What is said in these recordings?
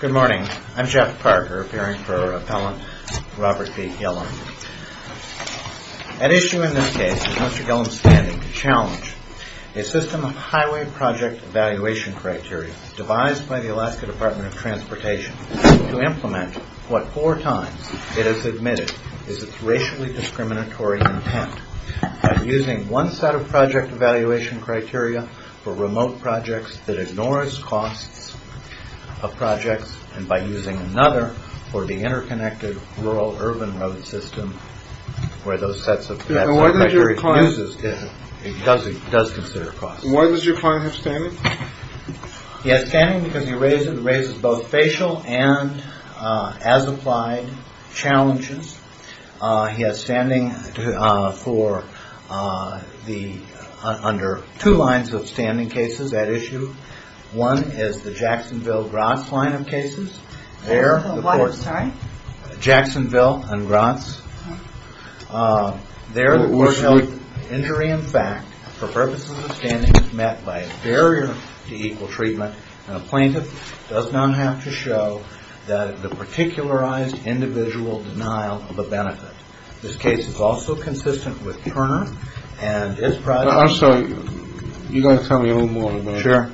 Good morning. I'm Jeff Parker, appearing for Appellant Robert B. Gillum. At issue in this case is Mr. Gillum's standing to challenge a system of highway project evaluation criteria devised by the Alaska Department of Transportation to implement what four times it has admitted is its racially discriminatory intent by using one set of project evaluation criteria for remote projects that ignores costs of projects and by using another for the interconnected rural urban road system where those sets of criteria is used does consider costs. Why does your client have standing? He has standing because he raises both facial and as applied challenges. He has standing for the under two lines of standing cases at issue. One is the Jacksonville-Grotz line of cases. Jacksonville and Grotz. There there was no injury in fact for purposes of standing met by a barrier to equal treatment. A plaintiff does not have to show that the particularized individual denial of a benefit. This case is also consistent with Turner and his project. I'm sorry, you've got to tell me a little more about it. Sure.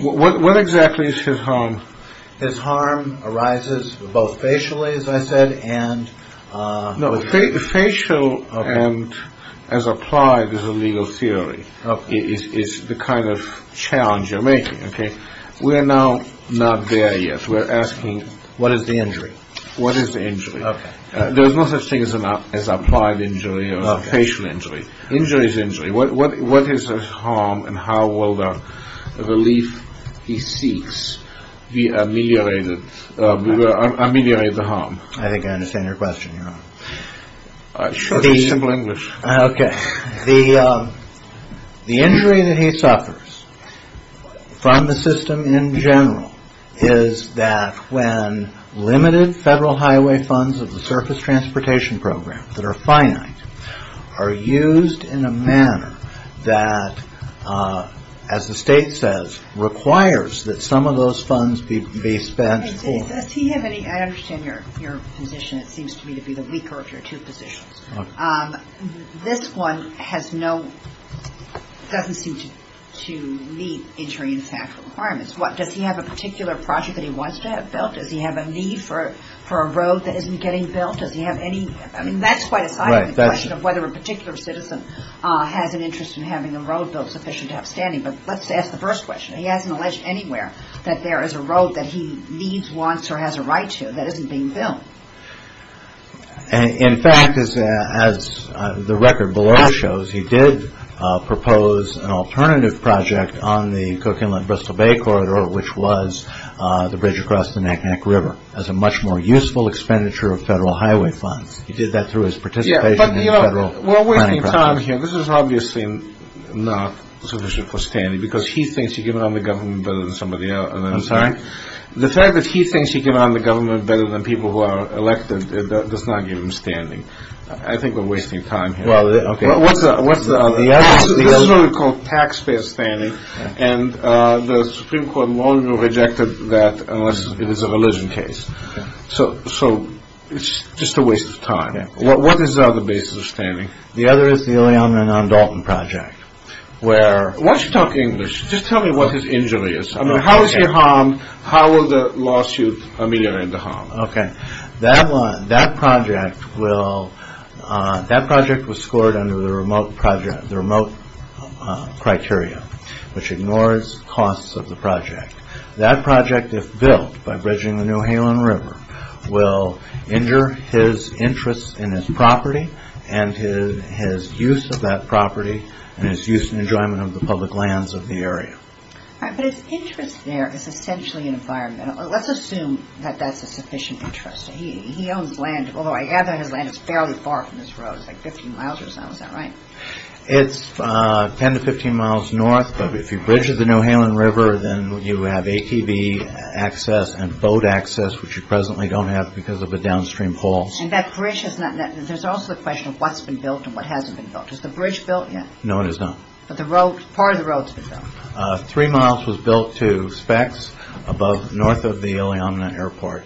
What exactly is his harm? His harm arises both facially as I said and... We're now not there yet. We're asking... What is the injury? What is the injury? Okay. There's no such thing as applied injury or facial injury. Injury is injury. What is his harm and how will the relief he seeks be ameliorated, ameliorate the harm? I think I understand your question. Short and simple English. Okay. The injury that he suffers from the system in general is that when limited federal highway funds of the surface transportation program that are finite are used in a manner that as the state says requires that some of those funds be spent for... Does he have any... I understand your position. It seems to me to be the weaker of your two positions. Okay. This one has no... Doesn't seem to meet injury and safety requirements. Does he have a particular project that he wants to have built? Does he have a need for a road that isn't getting built? Does he have any... I mean, that's quite a side of the question of whether a particular citizen has an interest in having a road built sufficient to have standing. But let's ask the first question. He hasn't alleged anywhere that there is a road that he needs, wants, or has a right to that isn't being built. In fact, as the record below shows, he did propose an alternative project on the Cook Inlet-Bristol Bay Corridor, which was the bridge across the Naknek River as a much more useful expenditure of federal highway funds. He did that through his participation in the federal planning process. Yeah, but, you know, we're wasting time here. This is obviously not sufficient for standing because he thinks he can run the government better than somebody else. I'm sorry? The fact that he thinks he can run the government better than people who are elected does not give him standing. I think we're wasting time here. Well, okay. What's the other? This is what we call taxpayer standing, and the Supreme Court no longer rejected that unless it is a religion case. So it's just a waste of time. What is the other basis of standing? The other is the Ileana Non-Dalton Project, where... Why don't you talk English? Just tell me what his injury is. I mean, how is he harmed? How will the lawsuit ameliorate the harm? Okay. That project will... That project was scored under the remote criteria, which ignores costs of the project. That project, if built by bridging the New Halen River, will injure his interest in his property and his use of that property and his use and enjoyment of the public lands of the area. But his interest there is essentially environmental. Let's assume that that's a sufficient interest. He owns land, although I gather his land is fairly far from this road. It's like 15 miles or so. Is that right? It's 10 to 15 miles north, but if you bridge the New Halen River, then you have ATV access and boat access, which you presently don't have because of the downstream poles. And that bridge has not... There's also the question of what's been built and what hasn't been built. Is the bridge built yet? No, it is not. But the road... Part of the road's been built. Three miles was built to Spex, north of the Iliamna Airport.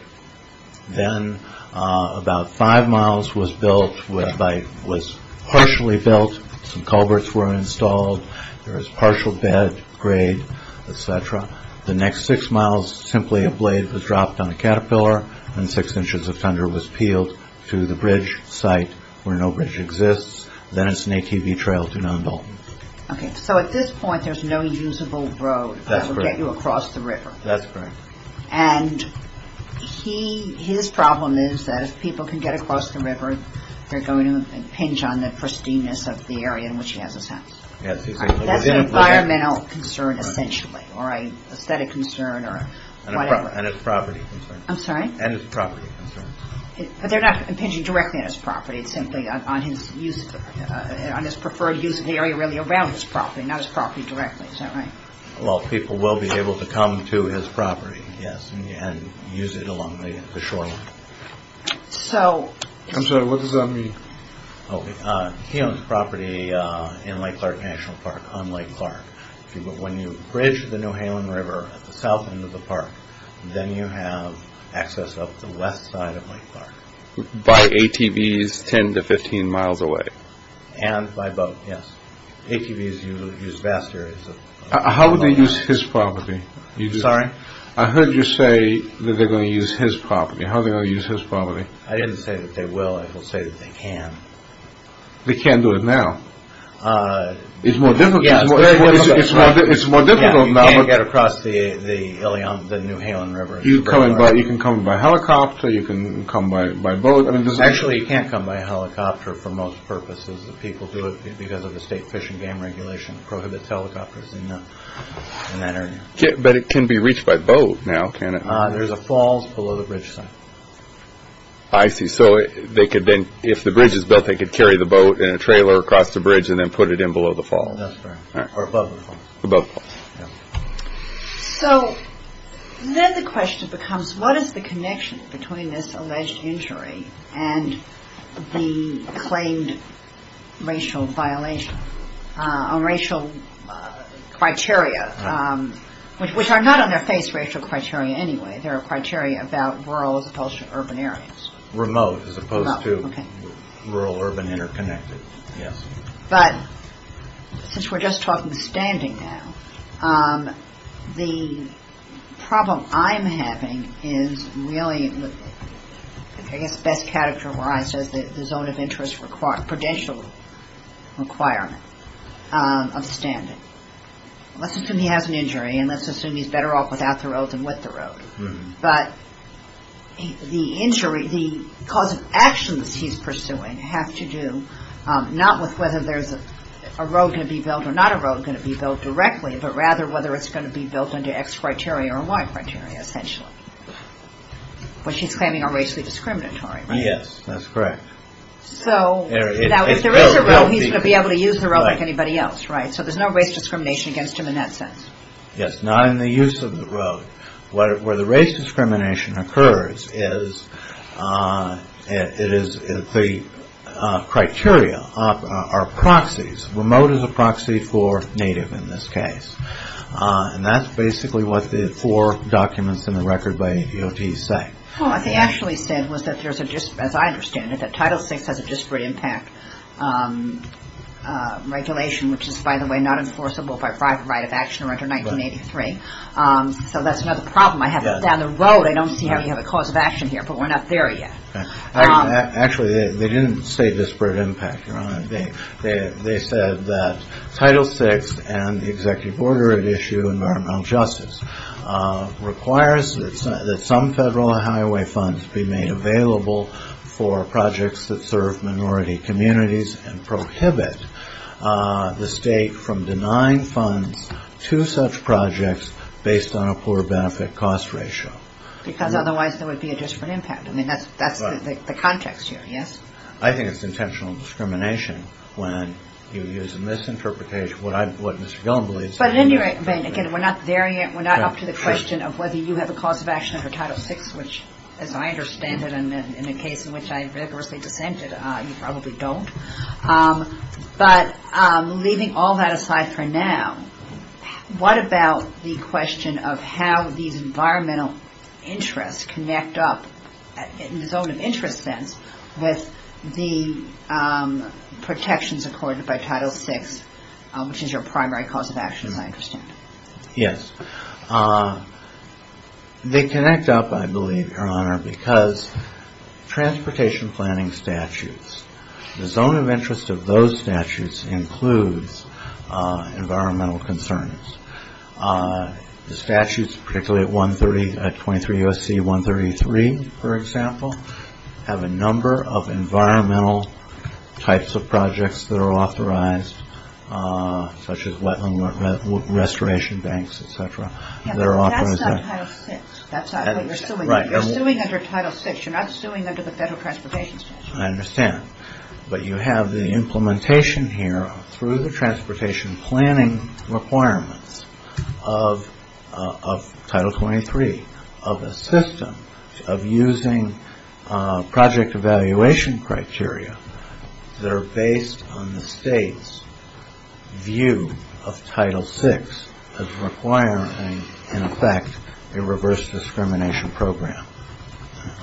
Then about five miles was built, was partially built. Some culverts were installed. There was partial bed grade, et cetera. The next six miles, simply a blade was dropped on a caterpillar and six inches of thunder was peeled to the bridge site where no bridge exists. Then it's an ATV trail to Nundle. Okay. So at this point, there's no usable road... That's correct. ...that would get you across the river. That's correct. And his problem is that if people can get across the river, they're going to impinge on the pristineness of the area in which he has his house. Yes. That's an environmental concern, essentially, or an aesthetic concern or whatever. And a property concern. I'm sorry? And a property concern. But they're not impinging directly on his property. It's simply on his preferred use of the area really around his property, not his property directly. Is that right? Well, people will be able to come to his property, yes, and use it along the shoreline. So... I'm sorry. What does that mean? He owns property in Lake Clark National Park on Lake Clark. When you bridge the Newhalen River at the south end of the park, then you have access up the west side of Lake Clark. By ATVs 10 to 15 miles away. And by boat, yes. ATVs use vast areas. How would they use his property? Sorry? I heard you say that they're going to use his property. How are they going to use his property? I didn't say that they will. I will say that they can. They can't do it now. It's more difficult. Yeah, it's very difficult. It's more difficult now. You can't get across the Newhalen River. You can come by helicopter. You can come by boat. Actually, you can't come by helicopter for most purposes. People do it because of the state fish and game regulation prohibits helicopters in that area. But it can be reached by boat now, can't it? There's a falls below the bridge site. I see. So they could then, if the bridge is built, they could carry the boat in a trailer across the bridge and then put it in below the falls. That's correct. Or above the falls. Above the falls. So then the question becomes, what is the connection between this alleged injury and the claimed racial violation, racial criteria, which are not on their face, racial criteria anyway. They are criteria about rural as opposed to urban areas. Remote as opposed to rural, urban, interconnected. Yes. But since we're just talking standing now, the problem I'm having is really, I guess, best categorized as the zone of interest credential requirement of standing. Let's assume he has an injury and let's assume he's better off without the road than with the road. But the injury, the cause of actions he's pursuing have to do, not a road going to be built directly, but rather whether it's going to be built under X criteria or Y criteria, essentially. Which he's claiming are racially discriminatory, right? Yes, that's correct. So if there is a road, he's going to be able to use the road like anybody else, right? So there's no race discrimination against him in that sense. Yes, not in the use of the road. Where the race discrimination occurs is the criteria are proxies. Remote is a proxy for native in this case. And that's basically what the four documents in the record by DOT say. Well, what they actually said was that there's a, as I understand it, that Title VI has a disparate impact regulation, which is, by the way, not enforceable by private right of action under 1983. So that's another problem. I have it down the road. I don't see how you have a cause of action here, but we're not there yet. Actually, they didn't say disparate impact, Your Honor. They said that Title VI and the executive order at issue, environmental justice, requires that some federal highway funds be made available for projects that serve minority communities and prohibit the state from denying funds to such projects based on a poor benefit cost ratio. Because otherwise there would be a disparate impact. I mean, that's the context here, yes? I think it's intentional discrimination when you use a misinterpretation of what Mr. Gillen believes. But at any rate, again, we're not there yet. We're not up to the question of whether you have a cause of action under Title VI, which, as I understand it, and in a case in which I rigorously dissented, you probably don't. But leaving all that aside for now, what about the question of how these environmental interests connect up, in the zone of interest sense, with the protections accorded by Title VI, which is your primary cause of action, as I understand it? Yes. They connect up, I believe, Your Honor, because transportation planning statutes, the zone of interest of those statutes includes environmental concerns. The statutes, particularly at 23 U.S.C. 133, for example, have a number of environmental types of projects that are authorized, such as wetland restoration banks, et cetera. Yes, but that's not Title VI. That's not what you're suing. Right. You're suing under Title VI. You're not suing under the Federal Transportation Statute. I understand. But you have the implementation here, through the transportation planning requirements of Title XXIII, of a system of using project evaluation criteria that are based on the state's view of Title VI as requiring, in effect, a reverse discrimination program.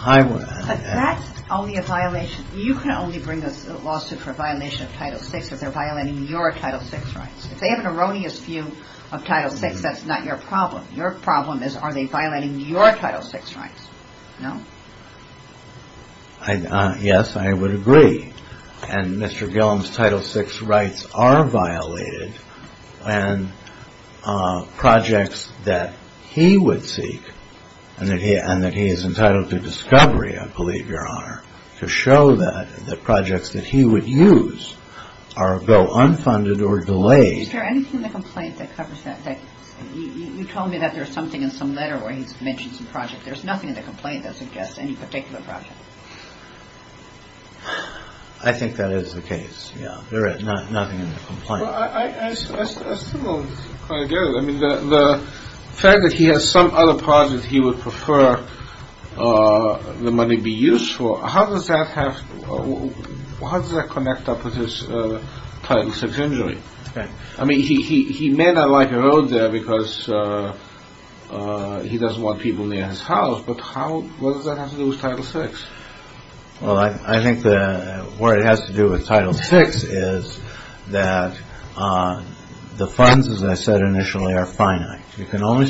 But that's only a violation. You can only bring a lawsuit for violation of Title VI if they're violating your Title VI rights. If they have an erroneous view of Title VI, that's not your problem. Your problem is are they violating your Title VI rights? No? Yes, I would agree. And Mr. Gillum's Title VI rights are violated when projects that he would seek, to show that the projects that he would use go unfunded or delayed. Is there anything in the complaint that covers that? You told me that there's something in some letter where he mentions a project. There's nothing in the complaint that suggests any particular project. I think that is the case, yeah. There is nothing in the complaint. I still don't quite get it. The fact that he has some other project he would prefer the money be used for, how does that connect up with his Title VI injury? I mean, he may not like a road there because he doesn't want people near his house, but what does that have to do with Title VI? Well, I think what it has to do with Title VI is that the funds, as I said initially, are finite. You can't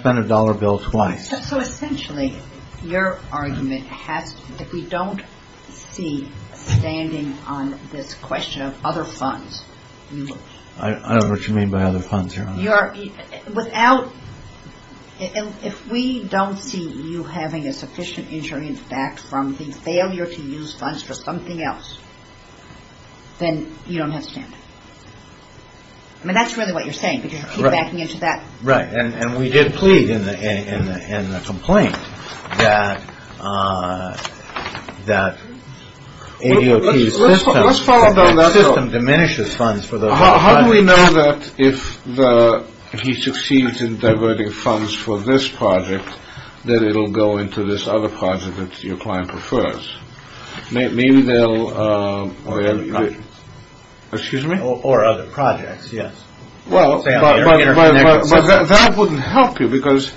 spend a dollar bill twice. So essentially, your argument has to be that we don't see standing on this question of other funds. I don't know what you mean by other funds here. If we don't see you having a sufficient insurance back from the failure to use funds for something else, then you don't have standing. I mean, that's really what you're saying because you keep backing into that. Right, and we did plead in the complaint that ADOT's system diminishes funds for those other funds. How do we know that if he succeeds in diverting funds for this project, that it will go into this other project that your client prefers? Maybe they'll... Excuse me? Or other projects, yes. Well, but that wouldn't help you because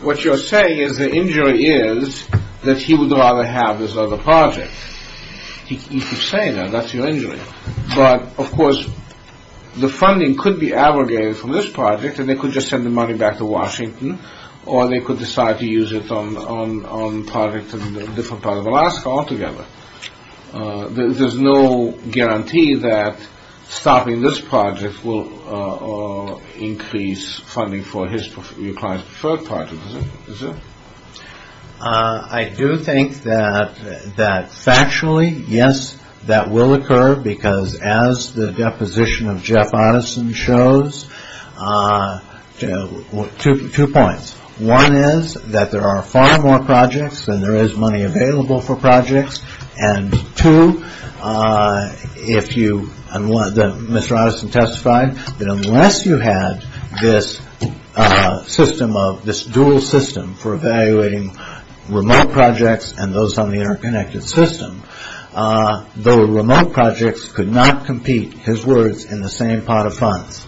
what you're saying is the injury is that he would rather have this other project. You keep saying that. That's your injury. But, of course, the funding could be abrogated from this project and they could just send the money back to Washington or they could decide to use it on projects in different parts of Alaska altogether. There's no guarantee that stopping this project will increase funding for your client's preferred project, is there? I do think that factually, yes, that will occur because as the deposition of Jeff Otteson shows, two points. One is that there are far more projects and there is money available for projects. And two, if you... Mr. Otteson testified that unless you had this system of... this dual system for evaluating remote projects and those on the interconnected system, the remote projects could not compete, his words, in the same pot of funds.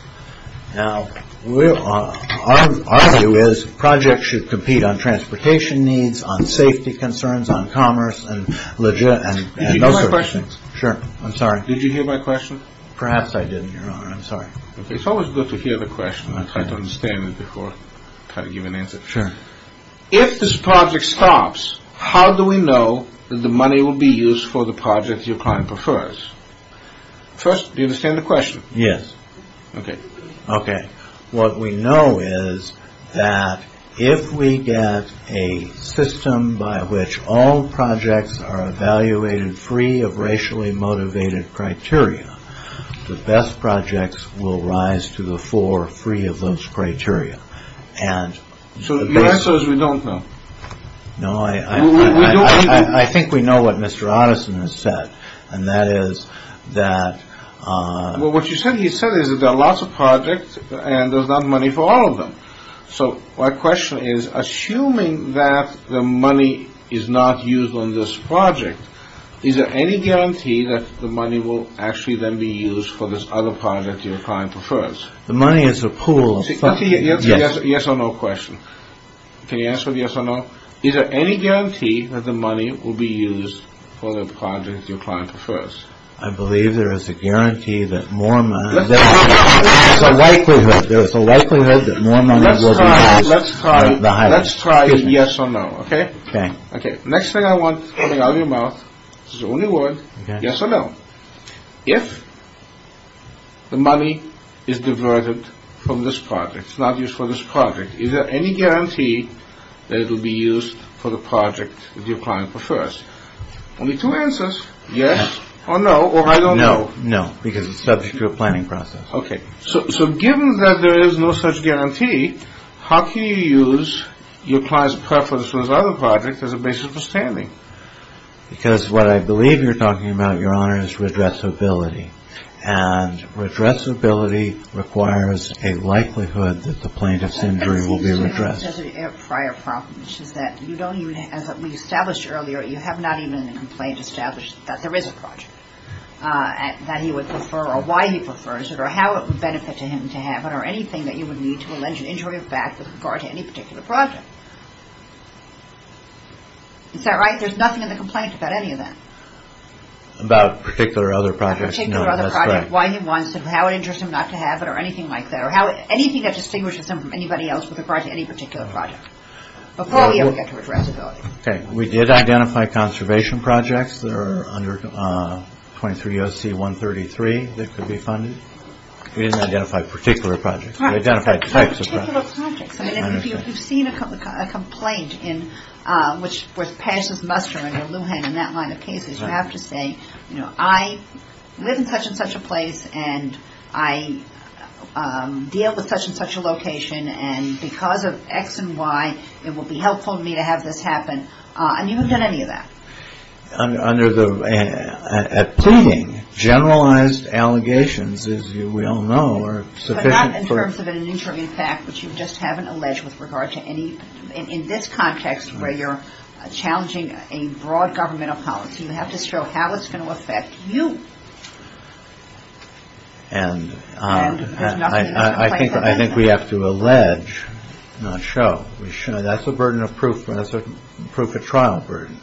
Now, our view is projects should compete on transportation needs, on safety concerns, on commerce and... Did you hear my question? Sure. I'm sorry. Did you hear my question? Perhaps I didn't, Your Honor. I'm sorry. It's always good to hear the question and try to understand it before trying to give an answer. Sure. If this project stops, how do we know that the money will be used for the project your client prefers? First, do you understand the question? Yes. Okay. Okay. What we know is that if we get a system by which all projects are evaluated free of racially motivated criteria, the best projects will rise to the fore free of those criteria. So the answer is we don't know? No, I think we know what Mr. Otteson has said, and that is that... Well, what he said is that there are lots of projects and there's not money for all of them. So my question is, assuming that the money is not used on this project, is there any guarantee that the money will actually then be used for this other project your client prefers? The money is a pool of funds. It's a yes or no question. Can you answer with yes or no? Is there any guarantee that the money will be used for the project your client prefers? I believe there is a guarantee that more money... There is a likelihood that more money will be used. Let's try a yes or no, okay? Okay. Next thing I want coming out of your mouth, this is the only word, yes or no. If the money is diverted from this project, it's not used for this project, is there any guarantee that it will be used for the project your client prefers? Only two answers, yes or no, or I don't know. No, because it's subject to a planning process. Okay. So given that there is no such guarantee, how can you use your client's preference for this other project as a basis for standing? Because what I believe you're talking about, Your Honor, is redressability. And redressability requires a likelihood that the plaintiff's injury will be redressed. This has a prior problem, which is that you don't even, as we established earlier, you have not even in the complaint established that there is a project that he would prefer or why he prefers it or how it would benefit him to have it or anything that you would need to allege an injury of back with regard to any particular project. Is that right? There's nothing in the complaint about any of that. About a particular other project? A particular other project, why he wants it, how it interests him not to have it, or anything like that, or anything that distinguishes him from anybody else with regard to any particular project before we ever get to redressability. Okay. We did identify conservation projects that are under 23 OC 133 that could be funded. We didn't identify particular projects. We identified types of projects. Particular projects. I mean, if you've seen a complaint in, which with Paz's mustering or Lujan in that line of cases, you have to say, you know, I live in such and such a place, and I deal with such and such a location, and because of X and Y, it would be helpful to me to have this happen. And you haven't done any of that. Under the approving, generalized allegations, as we all know, are sufficient for Not in terms of an injury of back, but you just haven't alleged with regard to any, in this context where you're challenging a broad governmental policy, you have to show how it's going to affect you. And I think we have to allege, not show. That's a burden of proof, and that's a proof of trial burden.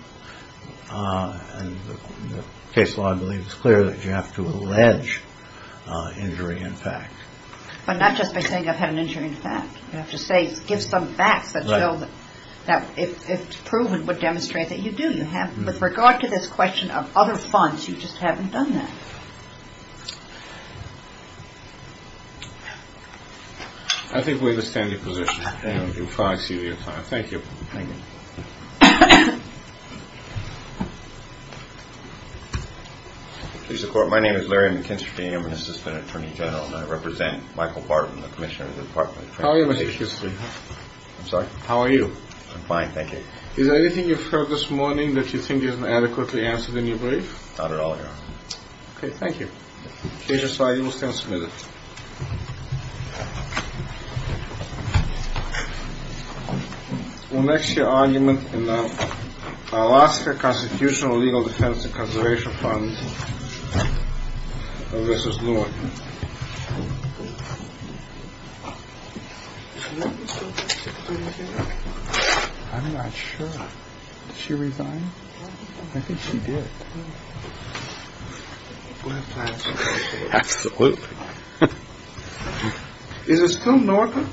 And the case law, I believe, is clear that you have to allege injury in fact. But not just by saying I've had an injury in fact. You have to say, give some facts that show that if proven, would demonstrate that you do. With regard to this question of other funds, you just haven't done that. I think we understand your position. Thank you. My name is Larry McKinstry. I'm an assistant attorney general, and I represent Michael Barton, the commissioner of the Department of Transportation. How are you, Mr. McKinstry? I'm sorry? How are you? I'm fine, thank you. Is there anything you've heard this morning that you think isn't adequately answered in your brief? Not at all, Your Honor. Okay. Thank you. Case file will stand submitted. We'll next hear argument in the Alaska Constitutional Legal Defense and Conservation Fund versus Lewin. I'm not sure. Did she resign? I think she did. We'll have to ask her. Absolutely. Is it still normal?